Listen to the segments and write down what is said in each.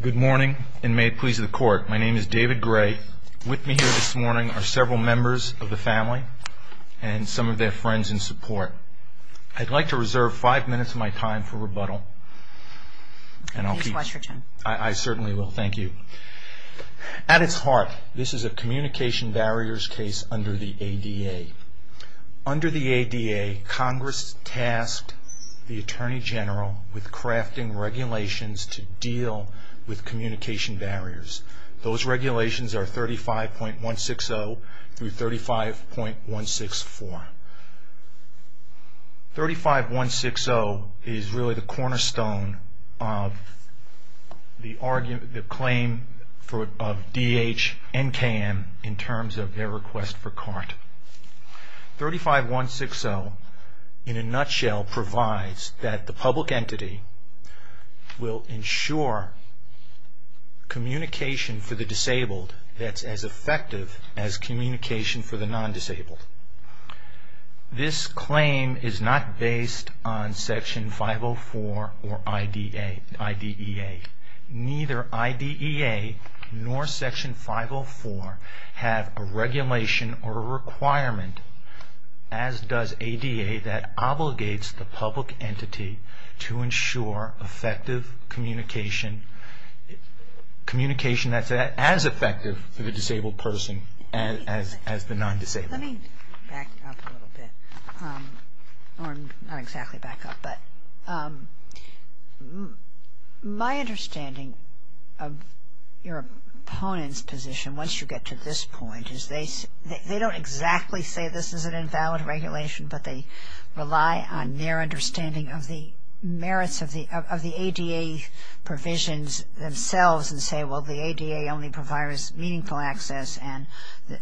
Good morning, and may it please the Court, my name is David Gray. With me here this morning are several members of the family and some of their friends in support. I'd like to reserve five minutes of my time for rebuttal. Please watch your time. I certainly will. Thank you. At its heart, this is a communication barriers case under the ADA. Under the ADA, Congress tasked the Attorney General with crafting regulations to deal with communication barriers. Those regulations are 35.160 through 35.164. 35.160 is really the cornerstone of the claim of D.H. and K.M. in terms of their request for CART. 35.160 in a nutshell provides that the public entity will ensure communication for the disabled that's as effective as communication for the non-disabled. This claim is not based on Section 504 or IDEA. Neither IDEA nor Section 504 have a regulation or a requirement, as does ADA, that obligates the public entity to ensure effective communication, communication that's as effective for the disabled person as the non-disabled. Let me back up a little bit, or not exactly back up, but my understanding of your opponent's position once you get to this point is they don't exactly say this is an invalid regulation, but they rely on their understanding of the merits of the ADA provisions themselves and say, well, the ADA only provides meaningful access, and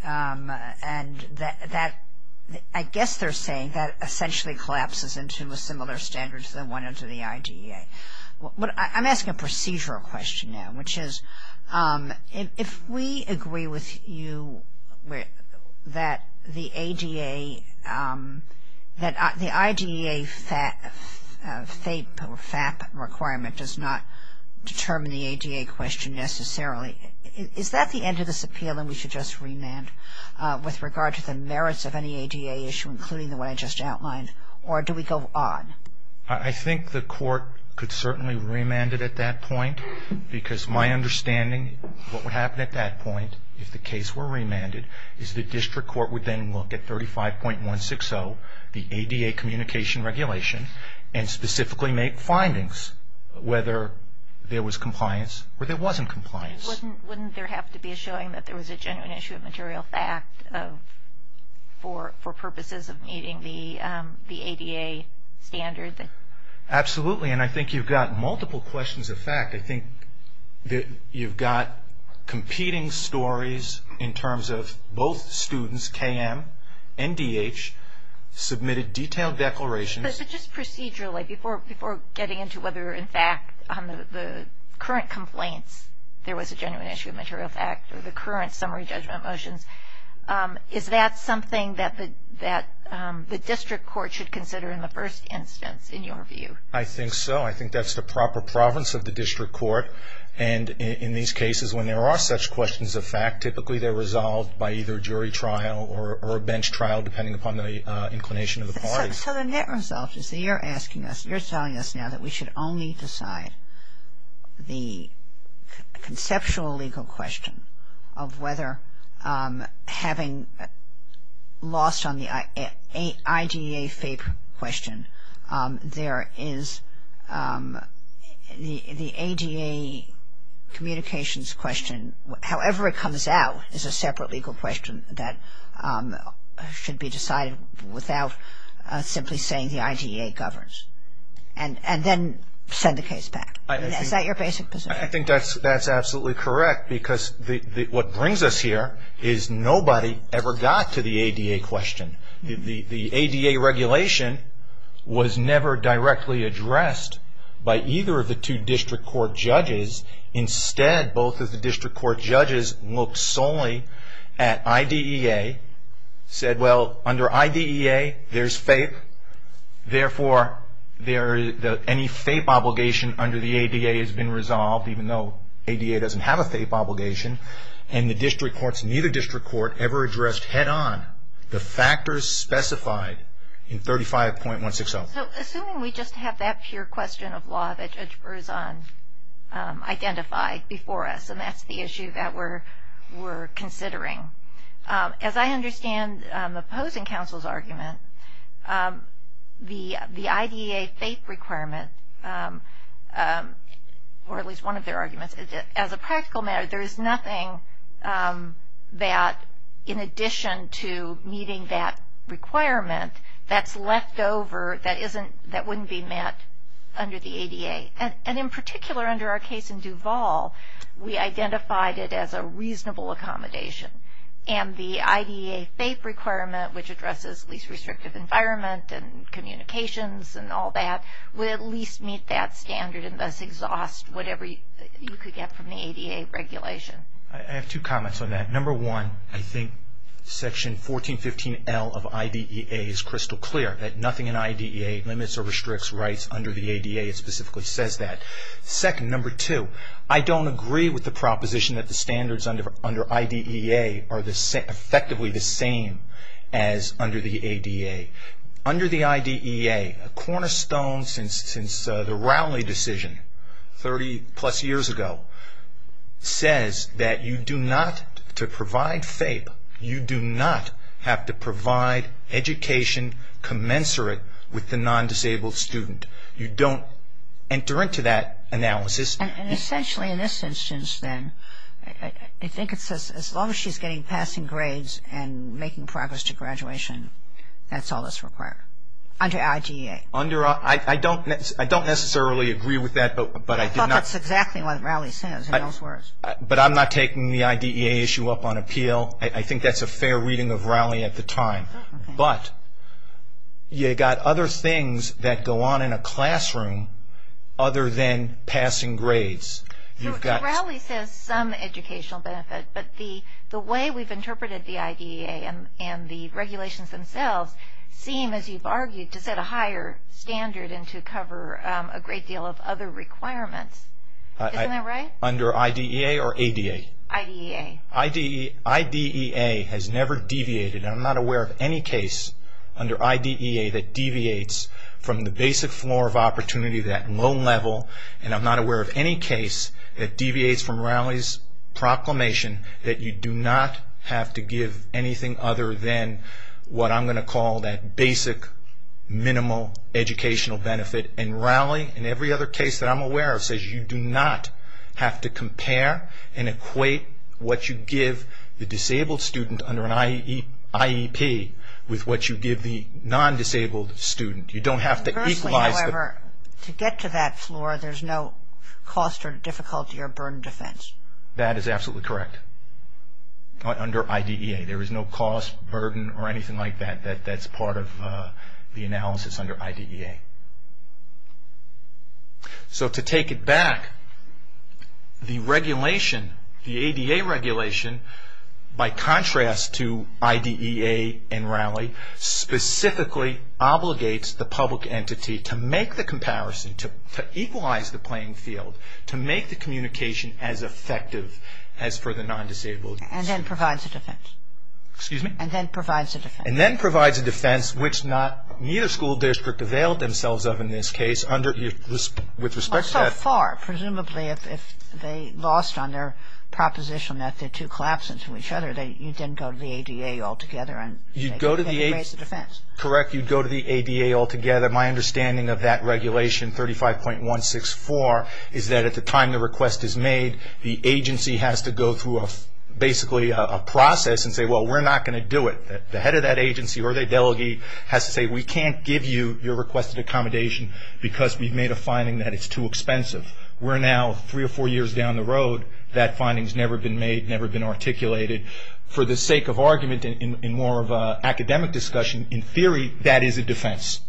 I guess they're saying that essentially collapses into a similar standard to the one under the IDEA. I'm asking a procedural question now, which is if we agree with you that the ADA, that the IDEA FAP requirement does not determine the ADA question necessarily, is that the end of this appeal and we should just remand with regard to the merits of any ADA issue, including the one I just outlined, or do we go on? I think the court could certainly remand it at that point, because my understanding of what would happen at that point if the case were remanded is the district court would then look at 35.160, the ADA communication regulation, and specifically make findings whether there was compliance or there wasn't compliance. Wouldn't there have to be a showing that there was a genuine issue of material fact for purposes of meeting the ADA standard? Absolutely, and I think you've got multiple questions of fact. I think that you've got competing stories in terms of both students, KM and DH, submitted detailed declarations. But just procedurally, before getting into whether in fact on the current complaints there was a genuine issue of material fact or the current summary judgment motions, is that something that the district court should consider in the first instance, in your view? I think so. I think that's the proper province of the district court, and in these cases when there are such questions of fact, typically they're resolved by either jury trial or a bench trial, depending upon the inclination of the parties. So the net result is that you're asking us, you're telling us now that we should only decide the conceptual legal question of whether having lost on the IDA FAPE question, there is the ADA communications question, however it comes out, is a separate legal question that should be decided without simply saying the IDA governs. And then send the case back. Is that your basic position? I think that's absolutely correct, because what brings us here is nobody ever got to the ADA question. The ADA regulation was never directly addressed by either of the two district court judges. Instead, both of the district court judges looked solely at IDEA, said well under IDEA there's FAPE, therefore any FAPE obligation under the ADA has been resolved, even though ADA doesn't have a FAPE obligation, and the district courts, neither district court ever addressed head-on the factors specified in 35.160. So assuming we just have that pure question of law that Judge Berzon identified before us, and that's the issue that we're considering. As I understand the opposing counsel's argument, the IDA FAPE requirement, or at least one of their arguments, as a practical matter, there is nothing that in addition to meeting that requirement, that's left over that wouldn't be met under the ADA. And in particular under our case in Duval, we identified it as a reasonable accommodation. And the IDEA FAPE requirement, which addresses least restrictive environment and communications and all that, would at least meet that standard and thus exhaust whatever you could get from the ADA regulation. I have two comments on that. Number one, I think section 1415L of IDEA is crystal clear that nothing in IDEA limits or restricts rights under the ADA. It specifically says that. Second, number two, I don't agree with the proposition that the standards under IDEA are effectively the same as under the ADA. Under the IDEA, a cornerstone since the Rowley decision 30 plus years ago, says that you do not, to provide FAPE, you do not have to provide education commensurate with the non-disabled student. You don't enter into that analysis. And essentially in this instance then, I think it says as long as she's getting passing grades and making progress to graduation, that's all that's required under IDEA. I don't necessarily agree with that. I thought that's exactly what Rowley says. But I'm not taking the IDEA issue up on appeal. I think that's a fair reading of Rowley at the time. But you've got other things that go on in a classroom other than passing grades. Rowley says some educational benefit, but the way we've interpreted the IDEA and the regulations themselves seem, as you've argued, to set a higher standard and to cover a great deal of other requirements. Isn't that right? Under IDEA or ADA? IDEA. IDEA has never deviated. I'm not aware of any case under IDEA that deviates from the basic floor of opportunity, that low level. And I'm not aware of any case that deviates from Rowley's proclamation that you do not have to give anything other than what I'm going to call that basic minimal educational benefit. And Rowley, in every other case that I'm aware of, says you do not have to compare and equate what you give the disabled student under an IEP with what you give the non-disabled student. You don't have to equalize. Conversely, however, to get to that floor, there's no cost or difficulty or burden defense. That is absolutely correct. Under IDEA, there is no cost, burden, or anything like that that's part of the analysis under IDEA. So to take it back, the regulation, the ADA regulation, by contrast to IDEA and Rowley, specifically obligates the public entity to make the comparison, to equalize the playing field, to make the communication as effective as for the non-disabled. And then provides a defense. Excuse me? And then provides a defense. And then provides a defense, which neither school district availed themselves of in this case, with respect to that. So far, presumably, if they lost on their proposition that the two collapse into each other, you didn't go to the ADA altogether and raise the defense? You'd go to the ADA altogether. My understanding of that regulation, 35.164, is that at the time the request is made, the agency has to go through basically a process and say, well, we're not going to do it. The head of that agency or the delegate has to say, we can't give you your requested accommodation because we've made a finding that it's too expensive. We're now three or four years down the road. That finding's never been made, never been articulated. For the sake of argument and more of an academic discussion, in theory, that is a defense.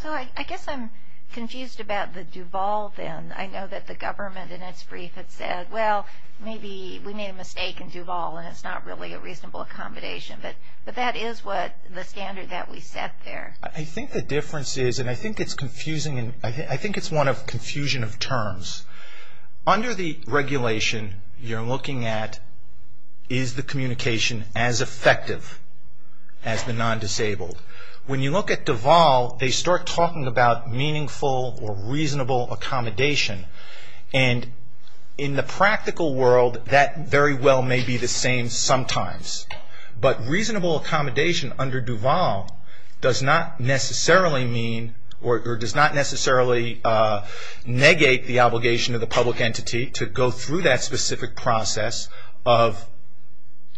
So I guess I'm confused about the Duval then. I know that the government in its brief had said, well, maybe we made a mistake in Duval and it's not really a reasonable accommodation. But that is the standard that we set there. I think the difference is, and I think it's confusing, I think it's one of confusion of terms. Under the regulation, you're looking at, is the communication as effective as the non-disabled? When you look at Duval, they start talking about meaningful or reasonable accommodation. In the practical world, that very well may be the same sometimes. But reasonable accommodation under Duval does not necessarily negate the obligation of the public entity to go through that specific process of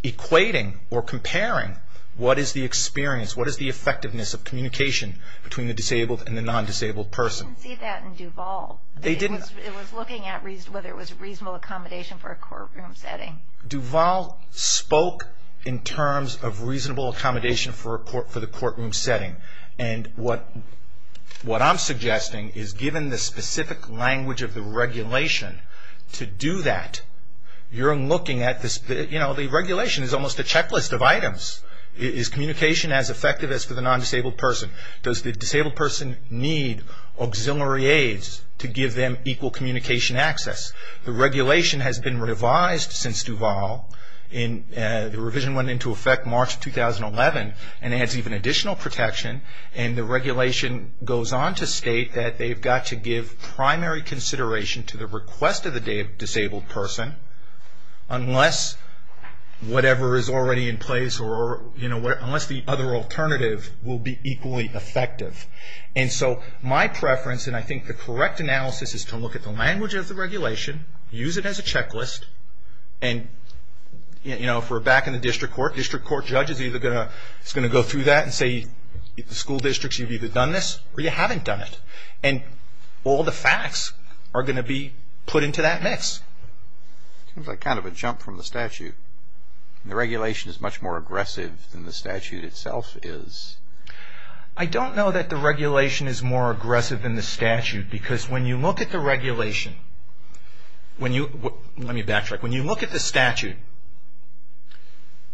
equating or comparing what is the experience, what is the effectiveness of communication between the disabled and the non-disabled person. I didn't see that in Duval. They didn't? It was looking at whether it was reasonable accommodation for a courtroom setting. Duval spoke in terms of reasonable accommodation for the courtroom setting. And what I'm suggesting is, given the specific language of the regulation to do that, you're looking at this, you know, the regulation is almost a checklist of items. Is communication as effective as for the non-disabled person? Does the disabled person need auxiliary aids to give them equal communication access? The regulation has been revised since Duval. The revision went into effect March 2011 and adds even additional protection. And the regulation goes on to state that they've got to give primary consideration to the request of the disabled person, unless whatever is already in place or, you know, unless the other alternative will be equally effective. And so my preference, and I think the correct analysis, is to look at the language of the regulation, use it as a checklist, and, you know, if we're back in the district court, the district court judge is either going to go through that and say, in the school districts, you've either done this or you haven't done it. And all the facts are going to be put into that mix. It sounds like kind of a jump from the statute. The regulation is much more aggressive than the statute itself is. I don't know that the regulation is more aggressive than the statute, because when you look at the regulation, when you, let me backtrack, when you look at the statute,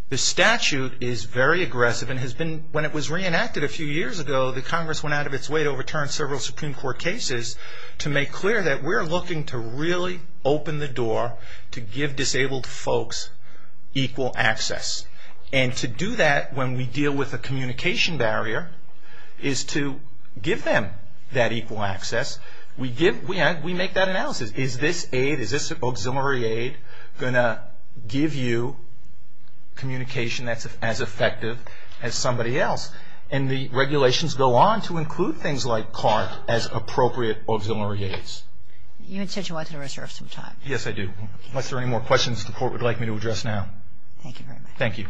the statute is very aggressive and has been, when it was reenacted a few years ago, the Congress went out of its way to overturn several Supreme Court cases to make clear that we're looking to really open the door to give disabled folks equal access. And to do that when we deal with a communication barrier is to give them that equal access. We give, we make that analysis. Is this aid, is this auxiliary aid going to give you communication that's as effective as somebody else? And the regulations go on to include things like CART as appropriate auxiliary aids. You had said you wanted to reserve some time. Yes, I do. Unless there are any more questions the court would like me to address now. Thank you very much. Thank you.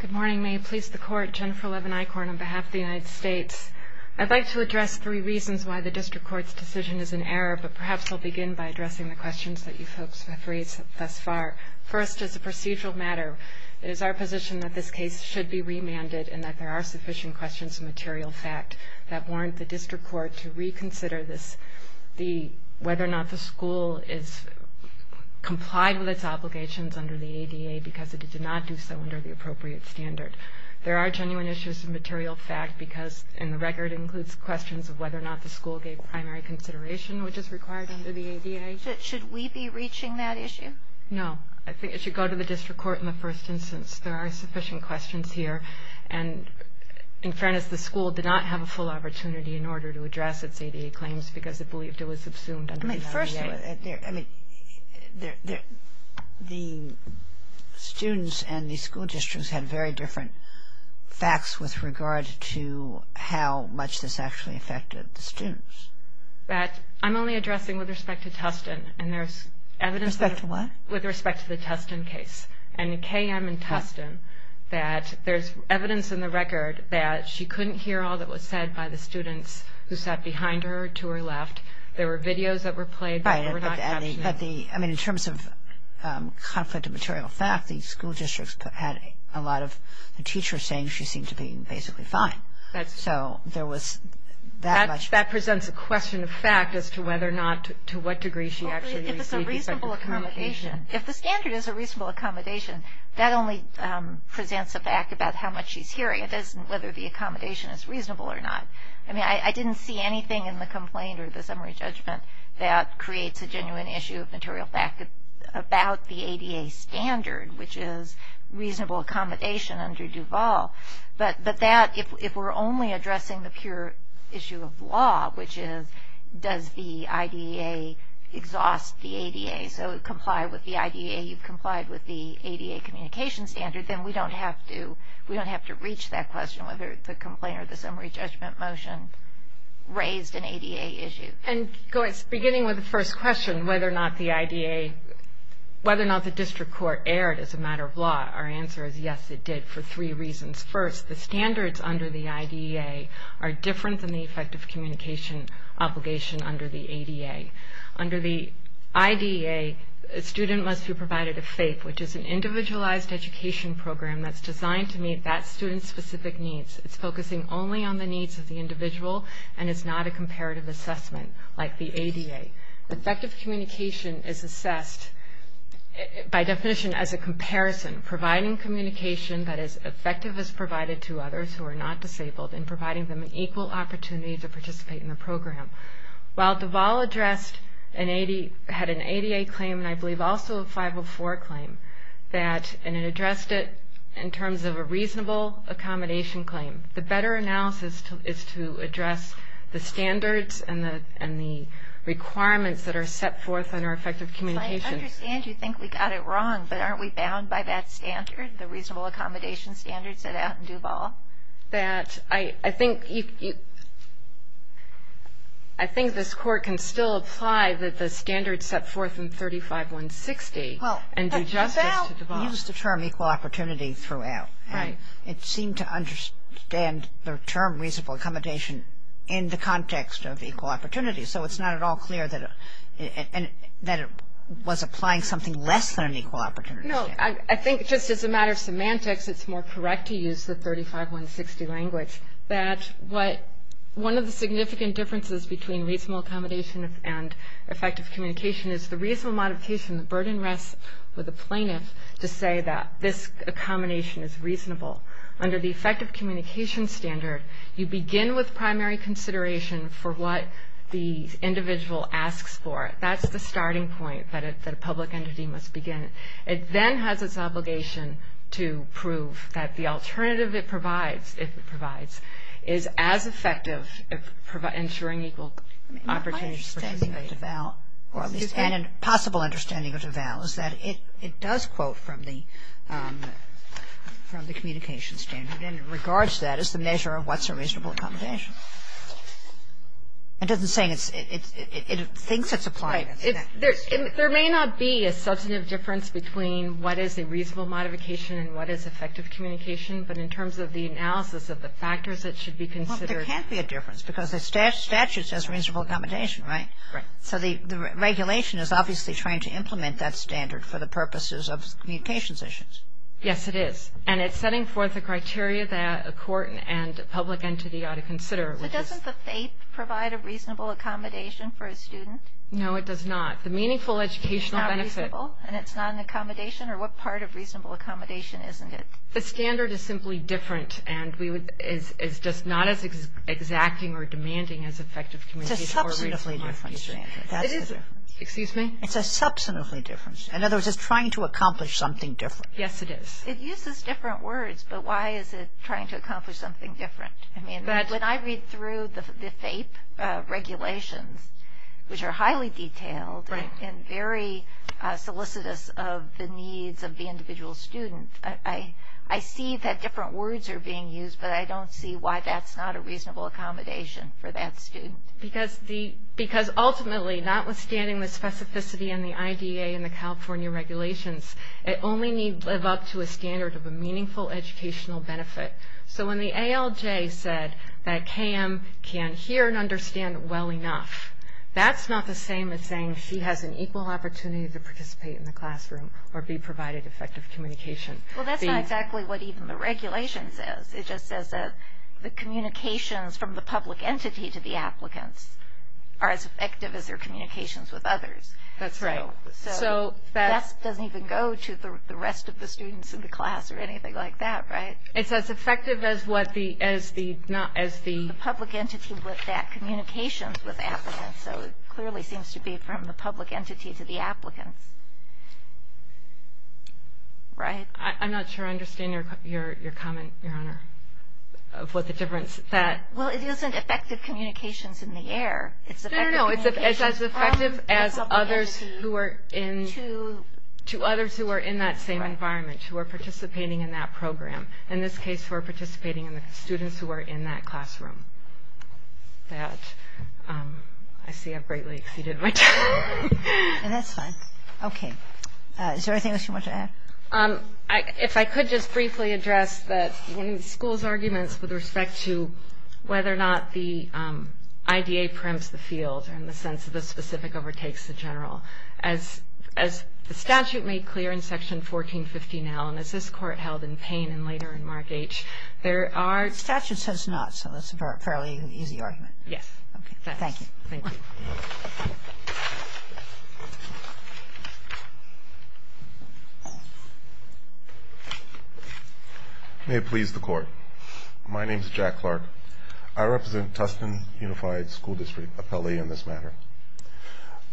Good morning. May it please the court, Jennifer Levin-Eichorn on behalf of the United States. I'd like to address three reasons why the district court's decision is in error, but perhaps I'll begin by addressing the questions that you folks have raised thus far. First, as a procedural matter, it is our position that this case should be remanded and that there are sufficient questions of material fact that warrant the district court to reconsider this, whether or not the school is complied with its obligations under the ADA because it did not do so under the appropriate standard. There are genuine issues of material fact because, and the record includes questions of whether or not the school gave primary consideration, which is required under the ADA. Should we be reaching that issue? No. I think it should go to the district court in the first instance. There are sufficient questions here. And in fairness, the school did not have a full opportunity in order to address its ADA claims because it believed it was subsumed under the ADA. The students and the school districts had very different facts with regard to how much this actually affected the students. I'm only addressing with respect to Tustin. With respect to what? With respect to the Tustin case. And in KM and Tustin, there's evidence in the record that she couldn't hear all that was said by the students who sat behind her to her left. There were videos that were played, but they were not captioned. Right. But the, I mean, in terms of conflict of material fact, the school districts had a lot of teachers saying she seemed to be basically fine. So there was that much. That presents a question of fact as to whether or not, to what degree she actually received. Well, if it's a reasonable accommodation. If the standard is a reasonable accommodation, that only presents a fact about how much she's hearing. It isn't whether the accommodation is reasonable or not. I mean, I didn't see anything in the complaint or the summary judgment that creates a genuine issue of material fact about the ADA standard, which is reasonable accommodation under Duval. But that, if we're only addressing the pure issue of law, which is does the IDEA exhaust the ADA, so comply with the IDEA, you've complied with the ADA communication standard, then we don't have to reach that question, whether the complaint or the summary judgment motion raised an ADA issue. And going, beginning with the first question, whether or not the IDEA, whether or not the district court erred as a matter of law, our answer is yes, it did, for three reasons. First, the standards under the IDEA are different than the effective communication obligation under the ADA. Under the IDEA, a student must be provided a FAPE, which is an individualized education program that's designed to meet that student's specific needs. It's focusing only on the needs of the individual, and it's not a comparative assessment, like the ADA. Effective communication is assessed, by definition, as a comparison, providing communication that is effective as provided to others who are not disabled and providing them an equal opportunity to participate in the program. While Duval had an ADA claim, and I believe also a 504 claim, and it addressed it in terms of a reasonable accommodation claim, the better analysis is to address the standards and the requirements that are set forth under effective communication. I understand you think we got it wrong, but aren't we bound by that standard, the reasonable accommodation standards set out in Duval? I think this Court can still apply that the standards set forth in 35160 and do justice to Duval. But Duval used the term equal opportunity throughout. Right. It seemed to understand the term reasonable accommodation in the context of equal opportunity, so it's not at all clear that it was applying something less than an equal opportunity standard. No, I think just as a matter of semantics, it's more correct to use the 35160 language, that one of the significant differences between reasonable accommodation and effective communication is the reasonable modification, the burden rests with the plaintiff to say that this accommodation is reasonable. Under the effective communication standard, you begin with primary consideration for what the individual asks for. That's the starting point that a public entity must begin. It then has its obligation to prove that the alternative it provides, if it provides, is as effective ensuring equal opportunity. My understanding of Duval, or at least a possible understanding of Duval, is that it does quote from the communication standard, and it regards that as the measure of what's a reasonable accommodation. It doesn't say it thinks it's applying it. There may not be a substantive difference between what is a reasonable modification and what is effective communication, but in terms of the analysis of the factors that should be considered. Well, there can't be a difference because the statute says reasonable accommodation, right? Right. So the regulation is obviously trying to implement that standard for the purposes of communications issues. Yes, it is. And it's setting forth the criteria that a court and a public entity ought to consider. So doesn't the faith provide a reasonable accommodation for a student? No, it does not. The meaningful educational benefit. It's not reasonable, and it's not an accommodation, or what part of reasonable accommodation isn't it? The standard is simply different, and is just not as exacting or demanding as effective communication. It's a substantively different standard. Excuse me? It's a substantively different standard. In other words, it's trying to accomplish something different. Yes, it is. It uses different words, but why is it trying to accomplish something different? When I read through the FAPE regulations, which are highly detailed and very solicitous of the needs of the individual student, I see that different words are being used, but I don't see why that's not a reasonable accommodation for that student. Because ultimately, notwithstanding the specificity in the IDEA and the California regulations, it only needs to live up to a standard of a meaningful educational benefit. So when the ALJ said that Cam can hear and understand well enough, that's not the same as saying she has an equal opportunity to participate in the classroom or be provided effective communication. Well, that's not exactly what even the regulation says. It just says that the communications from the public entity to the applicants are as effective as their communications with others. That's right. So that doesn't even go to the rest of the students in the class or anything like that, right? It's as effective as what the... The public entity with that communication with applicants. So it clearly seems to be from the public entity to the applicants. Right? I'm not sure I understand your comment, Your Honor, of what the difference that... Well, it isn't effective communications in the air. No, no, no. It's as effective as others who are in that same environment, who are participating in that program. In this case, who are participating in the students who are in that classroom. That... I see I've greatly exceeded my time. That's fine. Okay. Is there anything else you want to add? If I could just briefly address one of the school's arguments with respect to whether or not the IDA primps the field in the sense of the specific overtakes the general. As the statute made clear in Section 1450 now, and as this Court held in Payne and later in Mark H., there are... The statute says not, so that's a fairly easy argument. Yes. Okay. Thank you. Thank you. May it please the Court. My name is Jack Clark. I represent Tustin Unified School District, appellee in this matter.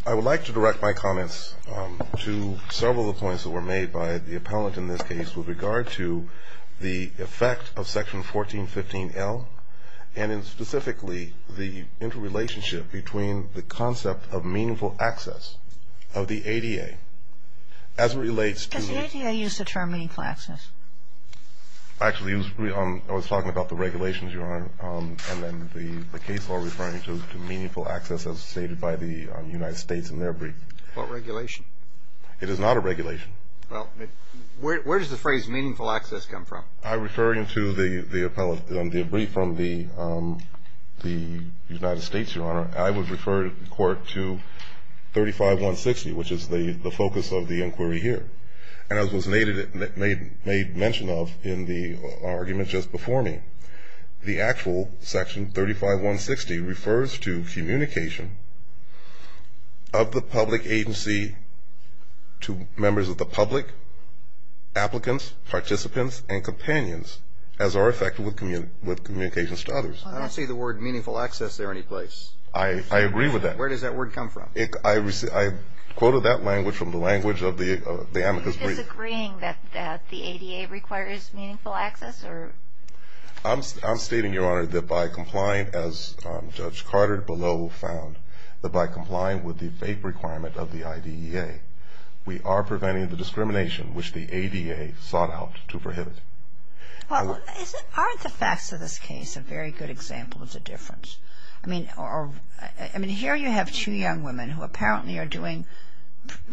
I would like to direct my comments to several of the points that were made by the appellant in this case with regard to the effect of Section 1415L, and specifically the interrelationship between the concept of meaningful access of the ADA as it relates to... Does the ADA use the term meaningful access? Yes. And then the case law referring to meaningful access as stated by the United States in their brief. What regulation? It is not a regulation. Well, where does the phrase meaningful access come from? I refer you to the brief from the United States, Your Honor. I would refer the Court to 35160, which is the focus of the inquiry here. And as was made mention of in the argument just before me, the actual Section 35160 refers to communication of the public agency to members of the public, applicants, participants, and companions as are affected with communications to others. I don't see the word meaningful access there any place. I agree with that. Where does that word come from? I quoted that language from the language of the amicus brief. Are you disagreeing that the ADA requires meaningful access? I'm stating, Your Honor, that by complying, as Judge Carter below found, that by complying with the FAPE requirement of the IDEA, we are preventing the discrimination which the ADA sought out to prohibit. Aren't the facts of this case a very good example of the difference? I mean, here you have two young women who apparently are doing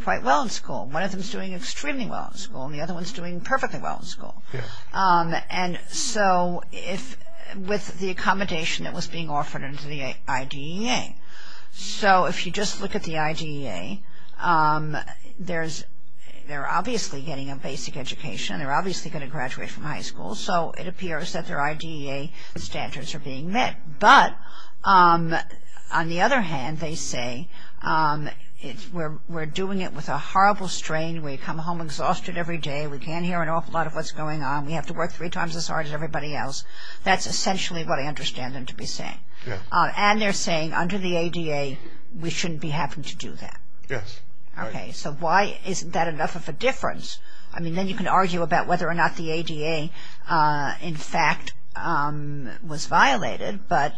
quite well in school. One of them is doing extremely well in school and the other one is doing perfectly well in school. And so with the accommodation that was being offered under the IDEA, so if you just look at the IDEA, they're obviously getting a basic education, they're obviously going to graduate from high school, so it appears that their IDEA standards are being met. But on the other hand, they say, we're doing it with a horrible strain. We come home exhausted every day. We can't hear an awful lot of what's going on. We have to work three times as hard as everybody else. That's essentially what I understand them to be saying. And they're saying under the ADA, we shouldn't be having to do that. Yes. Okay. So why isn't that enough of a difference? I mean, then you can argue about whether or not the ADA, in fact, was violated, but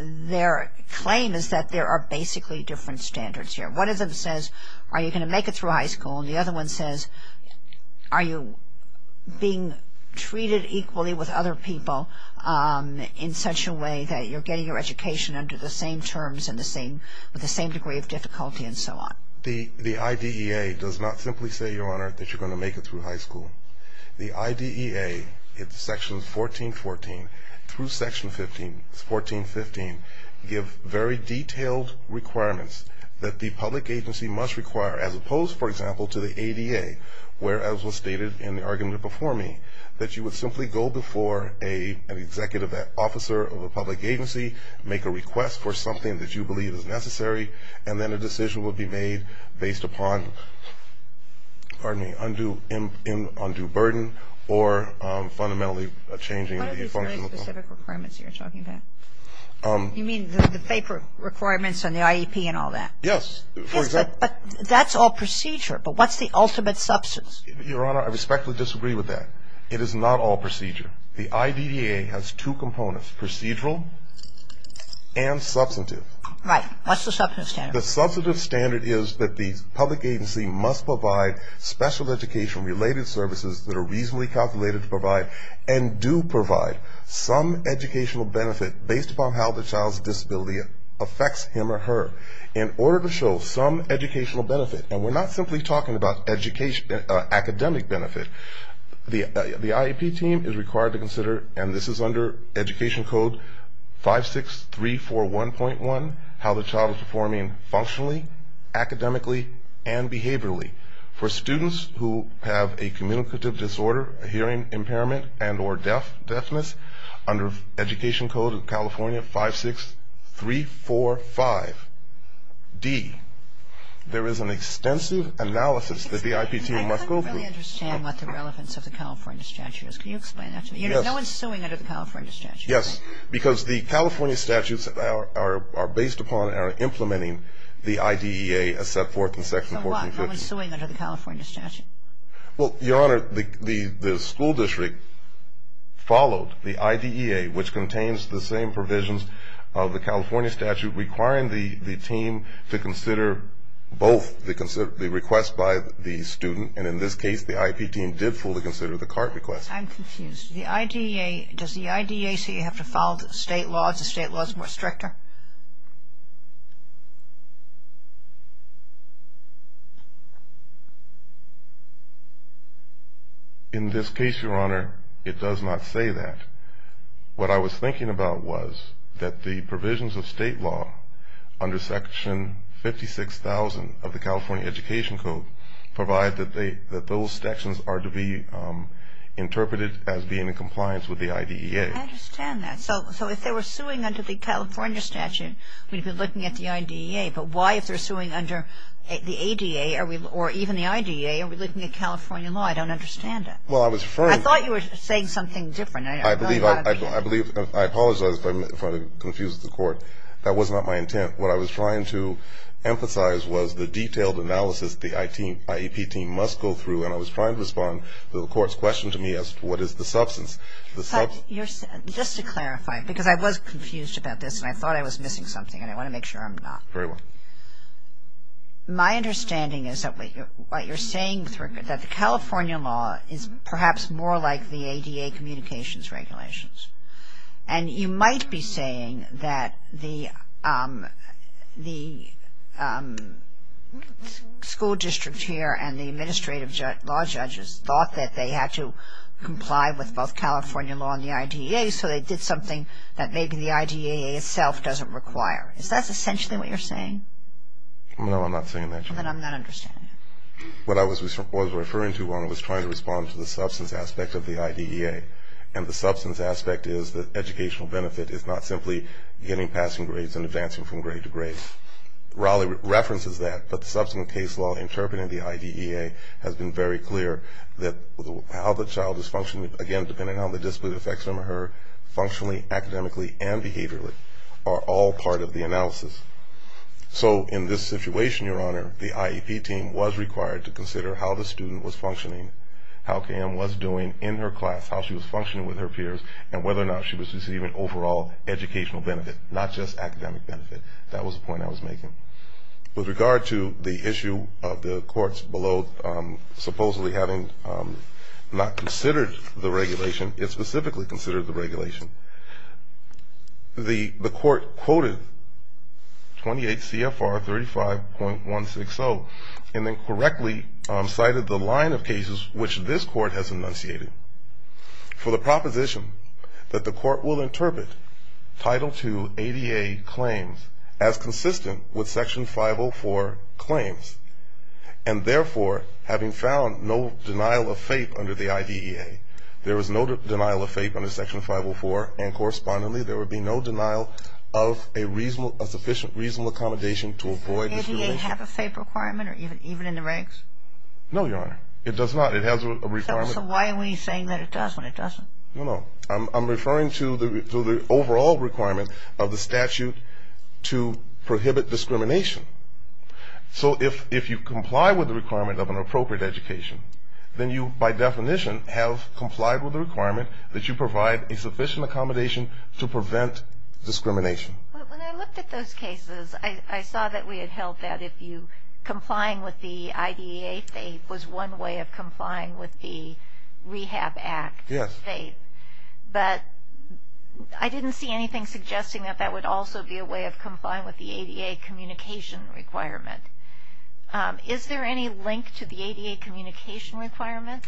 their claim is that there are basically different standards here. One of them says, are you going to make it through high school? And the other one says, are you being treated equally with other people in such a way that you're getting your education under the same terms and with the same degree of difficulty and so on? The IDEA does not simply say, Your Honor, that you're going to make it through high school. The IDEA, it's Section 1414 through Section 1415, give very detailed requirements that the public agency must require as opposed, for example, to the ADA, where, as was stated in the argument before me, that you would simply go before an executive officer of a public agency, make a request for something that you believe is necessary, and then a decision will be made based upon, pardon me, undue burden or fundamentally changing the function of the public agency. What are these very specific requirements you're talking about? You mean the FAPER requirements on the IEP and all that? Yes. Yes, but that's all procedure, but what's the ultimate substance? Your Honor, I respectfully disagree with that. It is not all procedure. The IDEA has two components, procedural and substantive. Right. What's the substantive standard? The substantive standard is that the public agency must provide special education-related services that are reasonably calculated to provide and do provide some educational benefit based upon how the child's disability affects him or her. In order to show some educational benefit, and we're not simply talking about academic benefit, the IEP team is required to consider, and this is under Education Code 56341.1, how the child is performing functionally, academically, and behaviorally. For students who have a communicative disorder, a hearing impairment, and or deafness, under Education Code of California 56345d, there is an extensive analysis that the IEP team must go through. I don't really understand what the relevance of the California statute is. Can you explain that to me? Yes. No one's suing under the California statute, right? Yes, because the California statutes are based upon and are implementing the IDEA as set forth in Section 1450. So why? No one's suing under the California statute? Well, Your Honor, the school district followed the IDEA, which contains the same provisions of the California statute, requiring the team to consider both the request by the student, and in this case the IEP team did fully consider the CART request. I'm confused. Does the IDEA say you have to follow state laws if state law is more stricter? In this case, Your Honor, it does not say that. What I was thinking about was that the provisions of state law under Section 56,000 of the California Education Code provide that those sections are to be interpreted as being in compliance with the IDEA. I understand that. So if they were suing under the California statute, we'd be looking at the IDEA, but why if they're suing under the ADA or even the IDEA are we looking at California law? I don't understand it. Well, I was referring to the ---- I thought you were saying something different. I believe ---- I apologize if I confused the Court. That was not my intent. What I was trying to emphasize was the detailed analysis the IEP team must go through, and I was trying to respond to the Court's question to me as to what is the substance. Just to clarify, because I was confused about this, and I thought I was missing something, and I want to make sure I'm not. Very well. My understanding is that what you're saying is that the California law is perhaps more like the ADA communications regulations. And you might be saying that the school district here and the administrative law judges thought that they had to comply with both California law and the IDEA, so they did something that maybe the IDEA itself doesn't require. Is that essentially what you're saying? No, I'm not saying that. Then I'm not understanding it. What I was referring to when I was trying to respond to the substance aspect of the IDEA and the substance aspect is that educational benefit is not simply getting passing grades and advancing from grade to grade. Raleigh references that, but the substance case law interpreted in the IDEA has been very clear that how the child is functioning, again, depending on the discipline effects on her, functionally, academically, and behaviorally are all part of the analysis. So in this situation, Your Honor, the IEP team was required to consider how the student was functioning, how KM was doing in her class, how she was functioning with her peers, and whether or not she was receiving overall educational benefit, not just academic benefit. That was the point I was making. With regard to the issue of the courts below supposedly having not considered the regulation, it specifically considered the regulation, the court quoted 28 CFR 35.160 and then correctly cited the line of cases which this court has enunciated for the proposition that the court will interpret Title II ADA claims as consistent with Section 504 claims and, therefore, having found no denial of faith under the IDEA, there is no denial of faith under Section 504, and correspondingly there would be no denial of a sufficient reasonable accommodation to avoid discrimination. Does it have a faith requirement even in the ranks? No, Your Honor. It does not. It has a requirement. So why are we saying that it does when it doesn't? No, no. I'm referring to the overall requirement of the statute to prohibit discrimination. So if you comply with the requirement of an appropriate education, then you, by definition, have complied with the requirement that you provide a sufficient accommodation to prevent discrimination. When I looked at those cases, I saw that we had held that if you, complying with the IDEA faith was one way of complying with the Rehab Act faith. Yes. But I didn't see anything suggesting that that would also be a way of complying with the ADA communication requirement. Is there any link to the ADA communication requirement?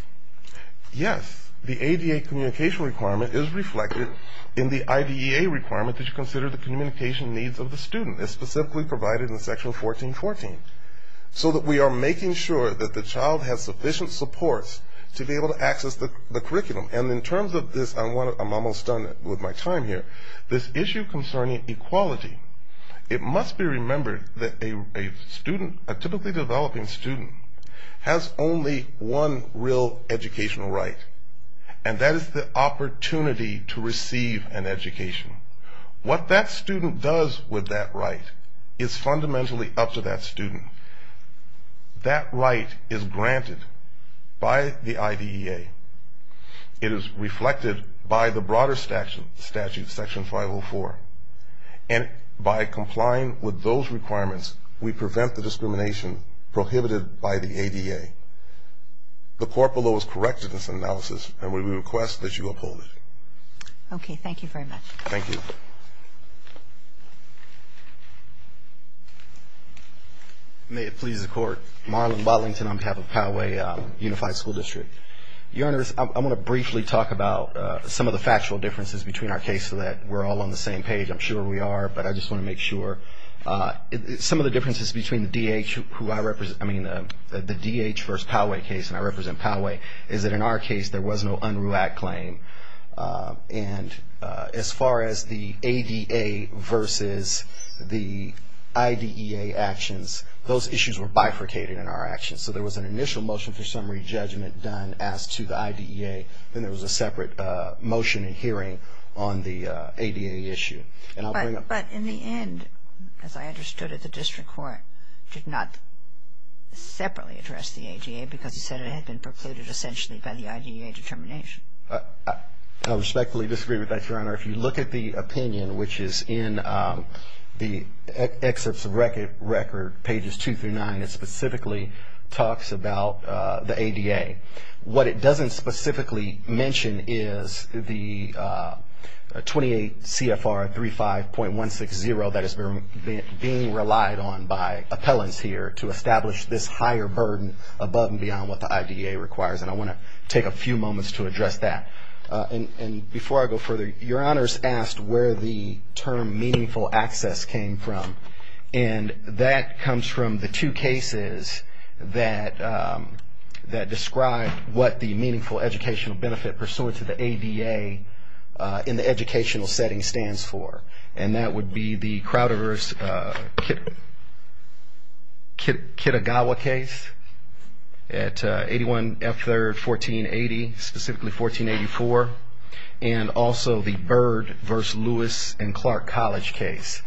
Yes. The ADA communication requirement is reflected in the IDEA requirement that you consider the communication needs of the student. It's specifically provided in Section 1414, so that we are making sure that the child has sufficient supports to be able to access the curriculum. And in terms of this, I'm almost done with my time here. This issue concerning equality, it must be remembered that a student, a typically developing student, has only one real educational right, and that is the opportunity to receive an education. What that student does with that right is fundamentally up to that student. That right is granted by the IDEA. It is reflected by the broader statute, Section 504. And by complying with those requirements, we prevent the discrimination prohibited by the ADA. The Court below has corrected this analysis, and we request that you uphold it. Okay. Thank you very much. Thank you. May it please the Court. Marlon Botlington on behalf of Poway Unified School District. Your Honors, I want to briefly talk about some of the factual differences between our case so that we're all on the same page. I'm sure we are, but I just want to make sure. Some of the differences between the DH versus Poway case, and I represent Poway, is that in our case there was no UNRUAC claim. And as far as the ADA versus the IDEA actions, those issues were bifurcated in our actions. So there was an initial motion for summary judgment done as to the IDEA, then there was a separate motion in hearing on the ADA issue. But in the end, as I understood it, the District Court did not separately address the ADA because it said it had been precluded essentially by the IDEA determination. I respectfully disagree with that, Your Honor. If you look at the opinion, which is in the Excerpts of Record, Pages 2 through 9, it specifically talks about the ADA. What it doesn't specifically mention is the 28 CFR 35.160 that is being relied on by appellants here to establish this higher burden above and beyond what the IDEA requires. And I want to take a few moments to address that. And before I go further, Your Honor's asked where the term meaningful access came from. And that comes from the two cases that describe what the meaningful educational benefit pursuant to the ADA in the educational setting stands for. And that would be the Crowder v. Kitagawa case at 81 F. 3rd, 1480, specifically 1484, and also the Byrd v. Lewis and Clark College case.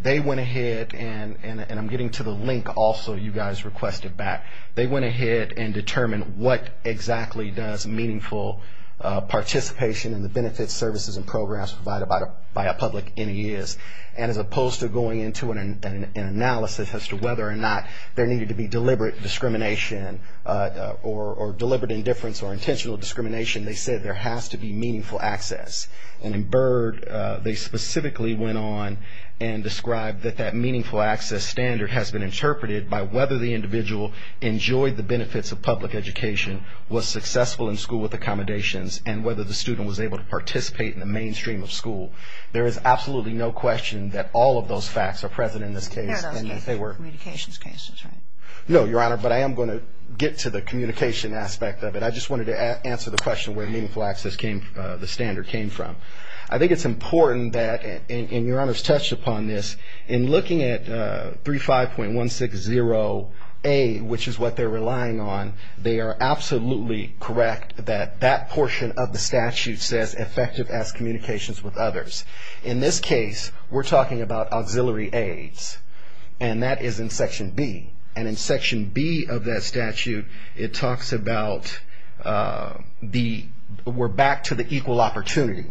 They went ahead, and I'm getting to the link also you guys requested back. They went ahead and determined what exactly does meaningful participation in the benefits, services, and programs provided by a public NES. And as opposed to going into an analysis as to whether or not there needed to be deliberate discrimination or deliberate indifference or intentional discrimination, they said there has to be meaningful access. And in Byrd, they specifically went on and described that that meaningful access standard has been interpreted by whether the individual enjoyed the benefits of public education, was successful in school with accommodations, and whether the student was able to participate in the mainstream of school. There is absolutely no question that all of those facts are present in this case. No, those were communications cases, right? No, Your Honor, but I am going to get to the communication aspect of it. I just wanted to answer the question where meaningful access came, the standard came from. I think it's important that, and Your Honor's touched upon this, in looking at 35.160A, which is what they're relying on, they are absolutely correct that that portion of the statute says effective as communications with others. In this case, we're talking about auxiliary aids, and that is in Section B. And in Section B of that statute, it talks about we're back to the equal opportunity.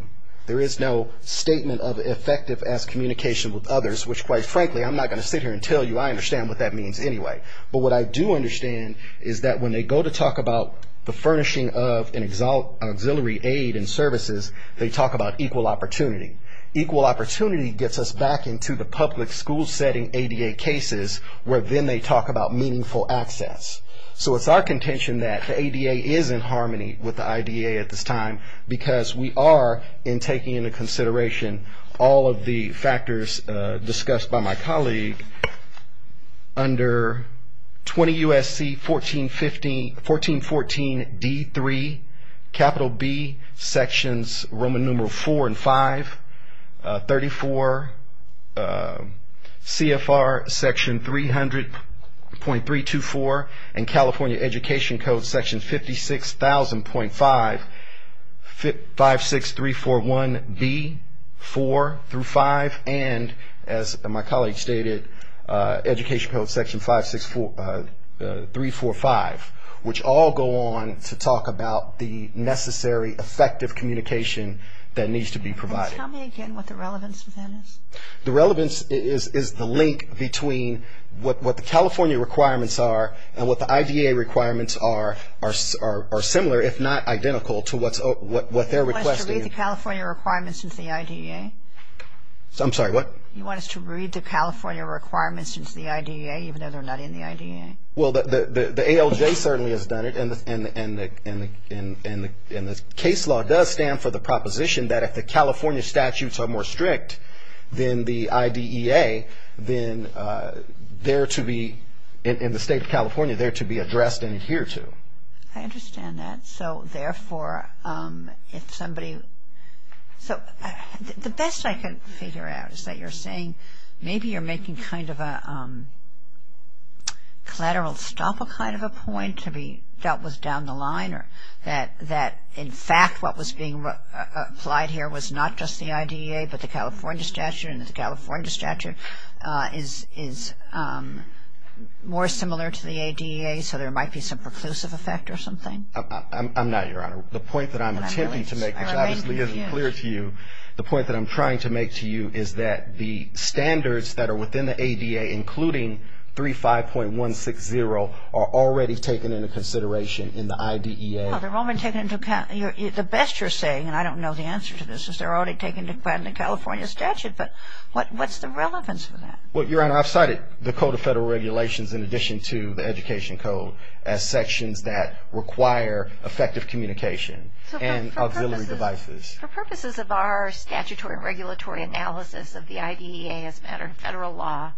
There is no statement of effective as communication with others, which, quite frankly, I'm not going to sit here and tell you I understand what that means anyway. But what I do understand is that when they go to talk about the furnishing of an auxiliary aid and services, they talk about equal opportunity. Equal opportunity gets us back into the public school setting ADA cases, where then they talk about meaningful access. So it's our contention that the ADA is in harmony with the IDA at this time, because we are in taking into consideration all of the factors discussed by my colleague Under 20 U.S.C. 1414 D.3, Capital B, Sections Roman Numeral 4 and 5, 34, CFR Section 300.324, and California Education Code Section 56,000.5, 56341B, 4 through 5, and as my colleague stated, Education Code Section 564, 345, which all go on to talk about the necessary effective communication that needs to be provided. Can you tell me again what the relevance of that is? The relevance is the link between what the California requirements are and what the IDA requirements are, are similar, if not identical, to what they're requesting. You want us to read the California requirements into the IDEA? I'm sorry, what? You want us to read the California requirements into the IDEA, even though they're not in the IDEA? Well, the ALJ certainly has done it, and the case law does stand for the proposition that if the California statutes are more strict than the IDEA, then they're to be, in the state of California, they're to be addressed and adhered to. I understand that. So, therefore, if somebody... So, the best I can figure out is that you're saying maybe you're making kind of a collateral stop kind of a point to be dealt with down the line, or that, in fact, what was being applied here was not just the IDEA, but the California statute, and the California statute is more similar to the IDEA, so there might be some preclusive effect or something? I'm not, Your Honor. The point that I'm attempting to make, which obviously isn't clear to you, the point that I'm trying to make to you is that the standards that are within the ADA, including 35.160, are already taken into consideration in the IDEA. Well, they're already taken into account. The best you're saying, and I don't know the answer to this, is they're already taken into account in the California statute. But what's the relevance of that? Well, Your Honor, I've cited the Code of Federal Regulations, in addition to the Education Code, as sections that require effective communication and auxiliary devices. For purposes of our statutory and regulatory analysis of the IDEA as a matter of federal law,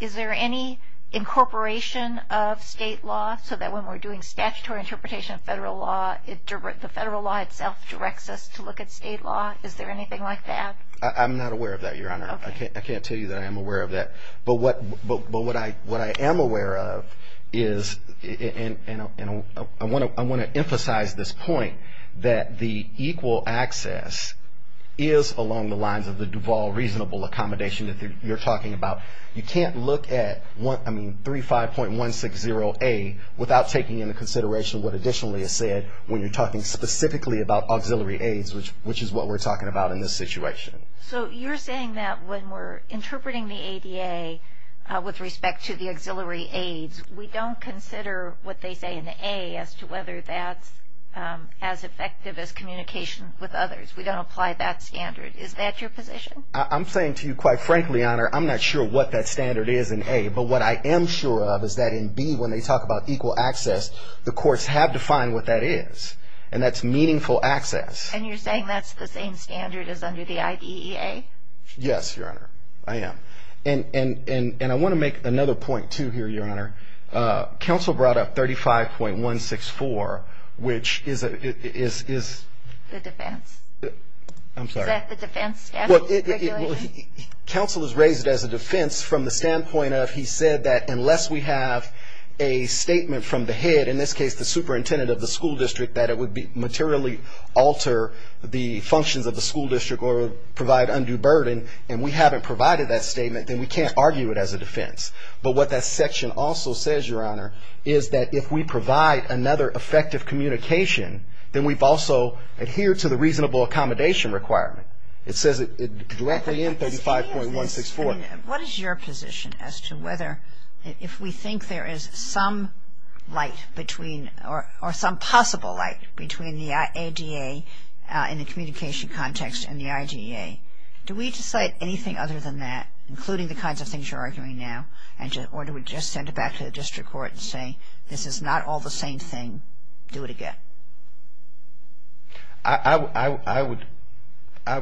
is there any incorporation of state law so that when we're doing statutory interpretation of federal law, the federal law itself directs us to look at state law? Is there anything like that? I'm not aware of that, Your Honor. Okay. I can't tell you that I am aware of that. But what I am aware of is, and I want to emphasize this point, that the equal access is along the lines of the Duval reasonable accommodation that you're talking about. You can't look at 35.160A without taking into consideration what additionally is said when you're talking specifically about auxiliary aids, which is what we're talking about in this situation. So you're saying that when we're interpreting the ADA with respect to the auxiliary aids, we don't consider what they say in the A as to whether that's as effective as communication with others. We don't apply that standard. Is that your position? I'm saying to you, quite frankly, Your Honor, I'm not sure what that standard is in A. But what I am sure of is that in B, when they talk about equal access, the courts have defined what that is, and that's meaningful access. And you're saying that's the same standard as under the IDEA? Yes, Your Honor. I am. And I want to make another point, too, here, Your Honor. Counsel brought up 35.164, which is a... The defense? I'm sorry. Is that the defense statute? Counsel was raised as a defense from the standpoint of he said that unless we have a statement from the head, in this case the superintendent of the school district, that it would materially alter the functions of the school district or provide undue burden, and we haven't provided that statement, then we can't argue it as a defense. But what that section also says, Your Honor, is that if we provide another effective communication, then we've also adhered to the reasonable accommodation requirement. It says it directly in 35.164. And what is your position as to whether if we think there is some light between or some possible light between the IDEA in the communication context and the IDEA, do we decide anything other than that, including the kinds of things you're arguing now, or do we just send it back to the district court and say this is not all the same thing, do it again? I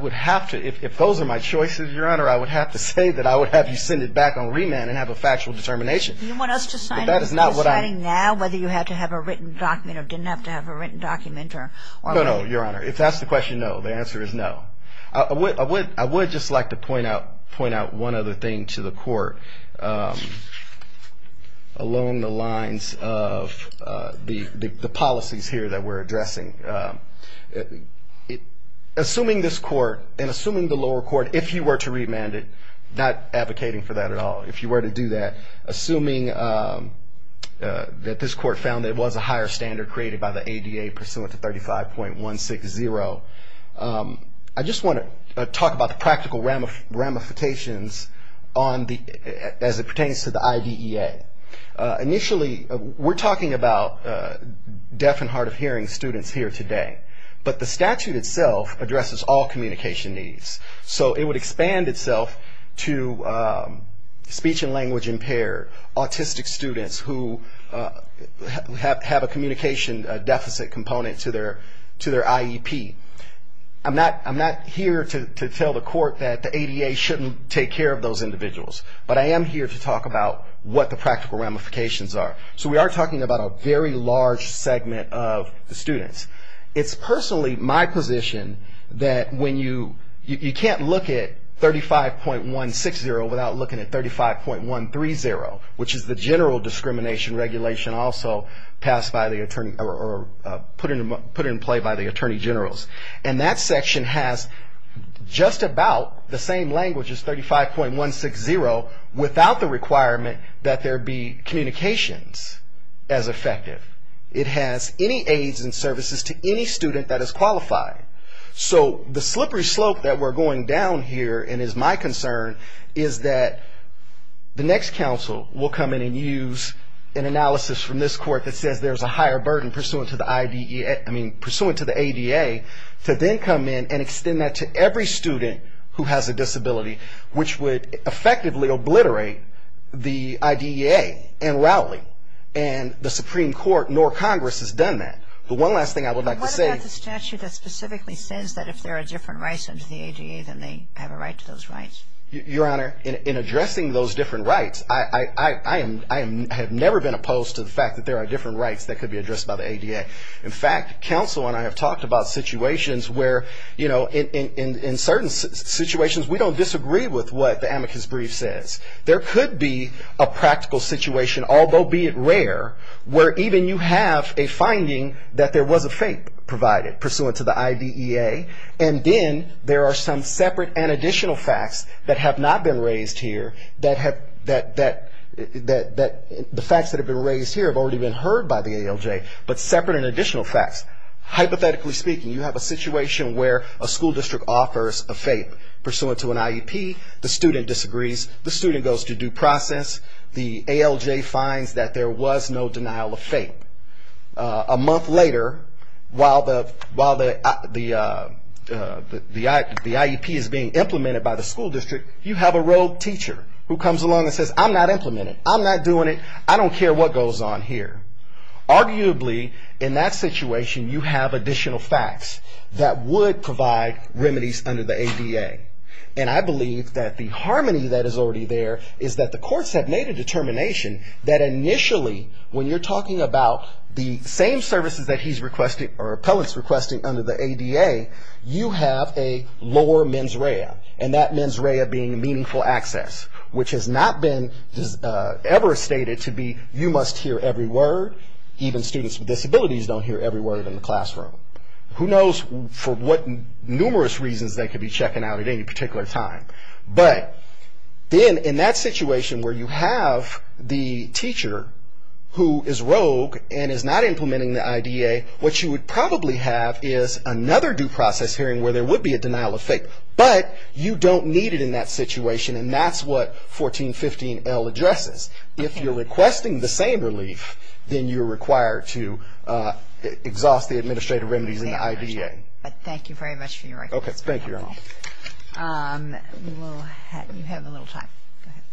would have to. If those are my choices, Your Honor, I would have to say that I would have you send it back on remand and have a factual determination. Do you want us to sign it as deciding now whether you have to have a written document or didn't have to have a written document? No, no, Your Honor. If that's the question, no. The answer is no. I would just like to point out one other thing to the court along the lines of the policies here that we're addressing. Assuming this court and assuming the lower court, if you were to remand it, not advocating for that at all, if you were to do that, assuming that this court found there was a higher standard created by the ADA pursuant to 35.160, I just want to talk about the practical ramifications as it pertains to the IDEA. Initially, we're talking about deaf and hard of hearing students here today, but the statute itself addresses all communication needs. So it would expand itself to speech and language impaired, autistic students who have a communication deficit component to their IEP. I'm not here to tell the court that the ADA shouldn't take care of those individuals, but I am here to talk about what the practical ramifications are. So we are talking about a very large segment of the students. It's personally my position that you can't look at 35.160 without looking at 35.130, which is the general discrimination regulation also put in play by the attorney generals. And that section has just about the same language as 35.160, without the requirement that there be communications as effective. It has any aids and services to any student that is qualified. So the slippery slope that we're going down here, and is my concern, is that the next counsel will come in and use an analysis from this court that says there's a higher burden pursuant to the ADA, to then come in and extend that to every student who has a disability, which would effectively obliterate the IDEA and Rowley. And the Supreme Court, nor Congress, has done that. But one last thing I would like to say. What about the statute that specifically says that if there are different rights under the ADA, then they have a right to those rights? Your Honor, in addressing those different rights, I have never been opposed to the fact that there are different rights that could be addressed by the ADA. In fact, counsel and I have talked about situations where, you know, in certain situations we don't disagree with what the amicus brief says. There could be a practical situation, although be it rare, where even you have a finding that there was a fate provided pursuant to the IDEA, and then there are some separate and additional facts that have not been raised here that the facts that have been raised here have already been heard by the ALJ, but separate and additional facts. Hypothetically speaking, you have a situation where a school district offers a fate pursuant to an IEP. The student disagrees. The student goes to due process. The ALJ finds that there was no denial of fate. A month later, while the IEP is being implemented by the school district, you have a rogue teacher who comes along and says, I'm not implementing it. I'm not doing it. I don't care what goes on here. Arguably, in that situation, you have additional facts that would provide remedies under the ADA, and I believe that the harmony that is already there is that the courts have made a determination that initially, when you're talking about the same services that he's requesting or the appellant's requesting under the ADA, you have a lower mens rea, and that mens rea being meaningful access, which has not been ever stated to be you must hear every word. Even students with disabilities don't hear every word in the classroom. Who knows for what numerous reasons they could be checking out at any particular time, but then in that situation where you have the teacher who is rogue and is not implementing the IDA, what you would probably have is another due process hearing where there would be a denial of fate, but you don't need it in that situation, and that's what 1415L addresses. If you're requesting the same relief, then you're required to exhaust the administrative remedies in the IDEA. Thank you very much for your recommendation. Okay. Thank you, Your Honor. We will have a little time. Go ahead.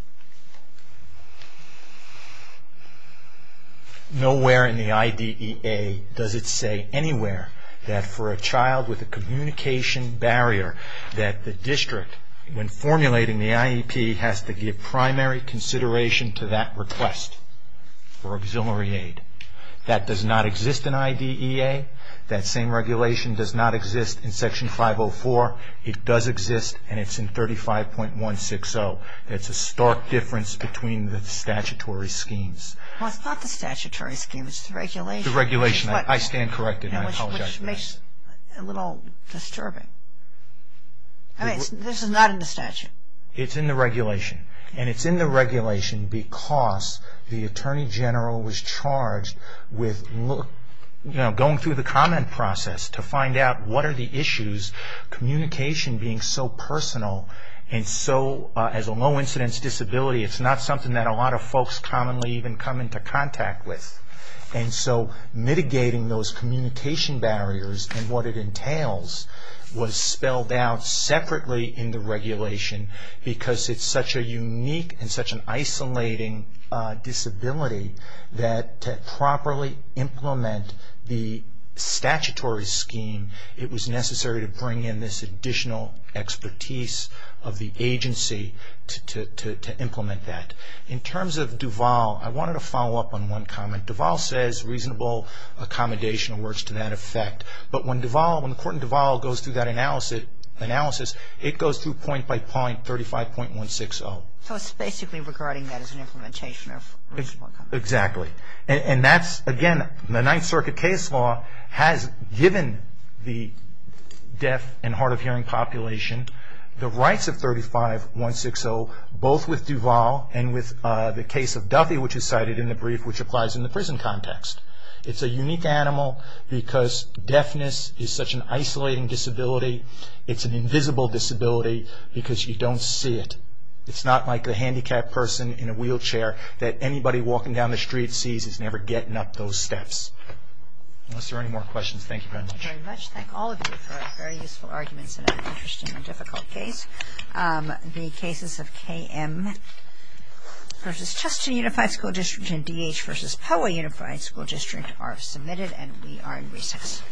Nowhere in the IDEA does it say anywhere that for a child with a communication barrier that the district, when formulating the IEP, has to give primary consideration to that request for auxiliary aid. That does not exist in IDEA. That same regulation does not exist in Section 504. It does exist, and it's in 35.160. It's a stark difference between the statutory schemes. Well, it's not the statutory schemes. It's the regulation. The regulation. I stand corrected, and I apologize for that. Which makes it a little disturbing. This is not in the statute. It's in the regulation, and it's in the regulation because the Attorney General was charged with going through the comment process to find out what are the issues, communication being so personal, and so as a low incidence disability, it's not something that a lot of folks commonly even come into contact with. And so mitigating those communication barriers and what it entails was spelled out separately in the regulation because it's such a unique and such an isolating disability that to properly implement the statutory scheme, it was necessary to bring in this additional expertise of the agency to implement that. In terms of Duval, I wanted to follow up on one comment. Duval says reasonable accommodation works to that effect, but when the court in Duval goes through that analysis, it goes through point by point 35.160. So it's basically regarding that as an implementation of reasonable accommodation. Exactly. And that's, again, the Ninth Circuit case law has given the deaf and hard of hearing population the rights of 35.160 both with Duval and with the case of Duffy, which is cited in the brief which applies in the prison context. It's a unique animal because deafness is such an isolating disability. It's an invisible disability because you don't see it. It's not like the handicapped person in a wheelchair that anybody walking down the street sees is never getting up those steps. Unless there are any more questions, thank you very much. Thank you very much. Thank all of you for your very useful arguments in an interesting and difficult case. The cases of KM v. Chester Unified School District and DH v. Poway Unified School District are submitted and we are in recess.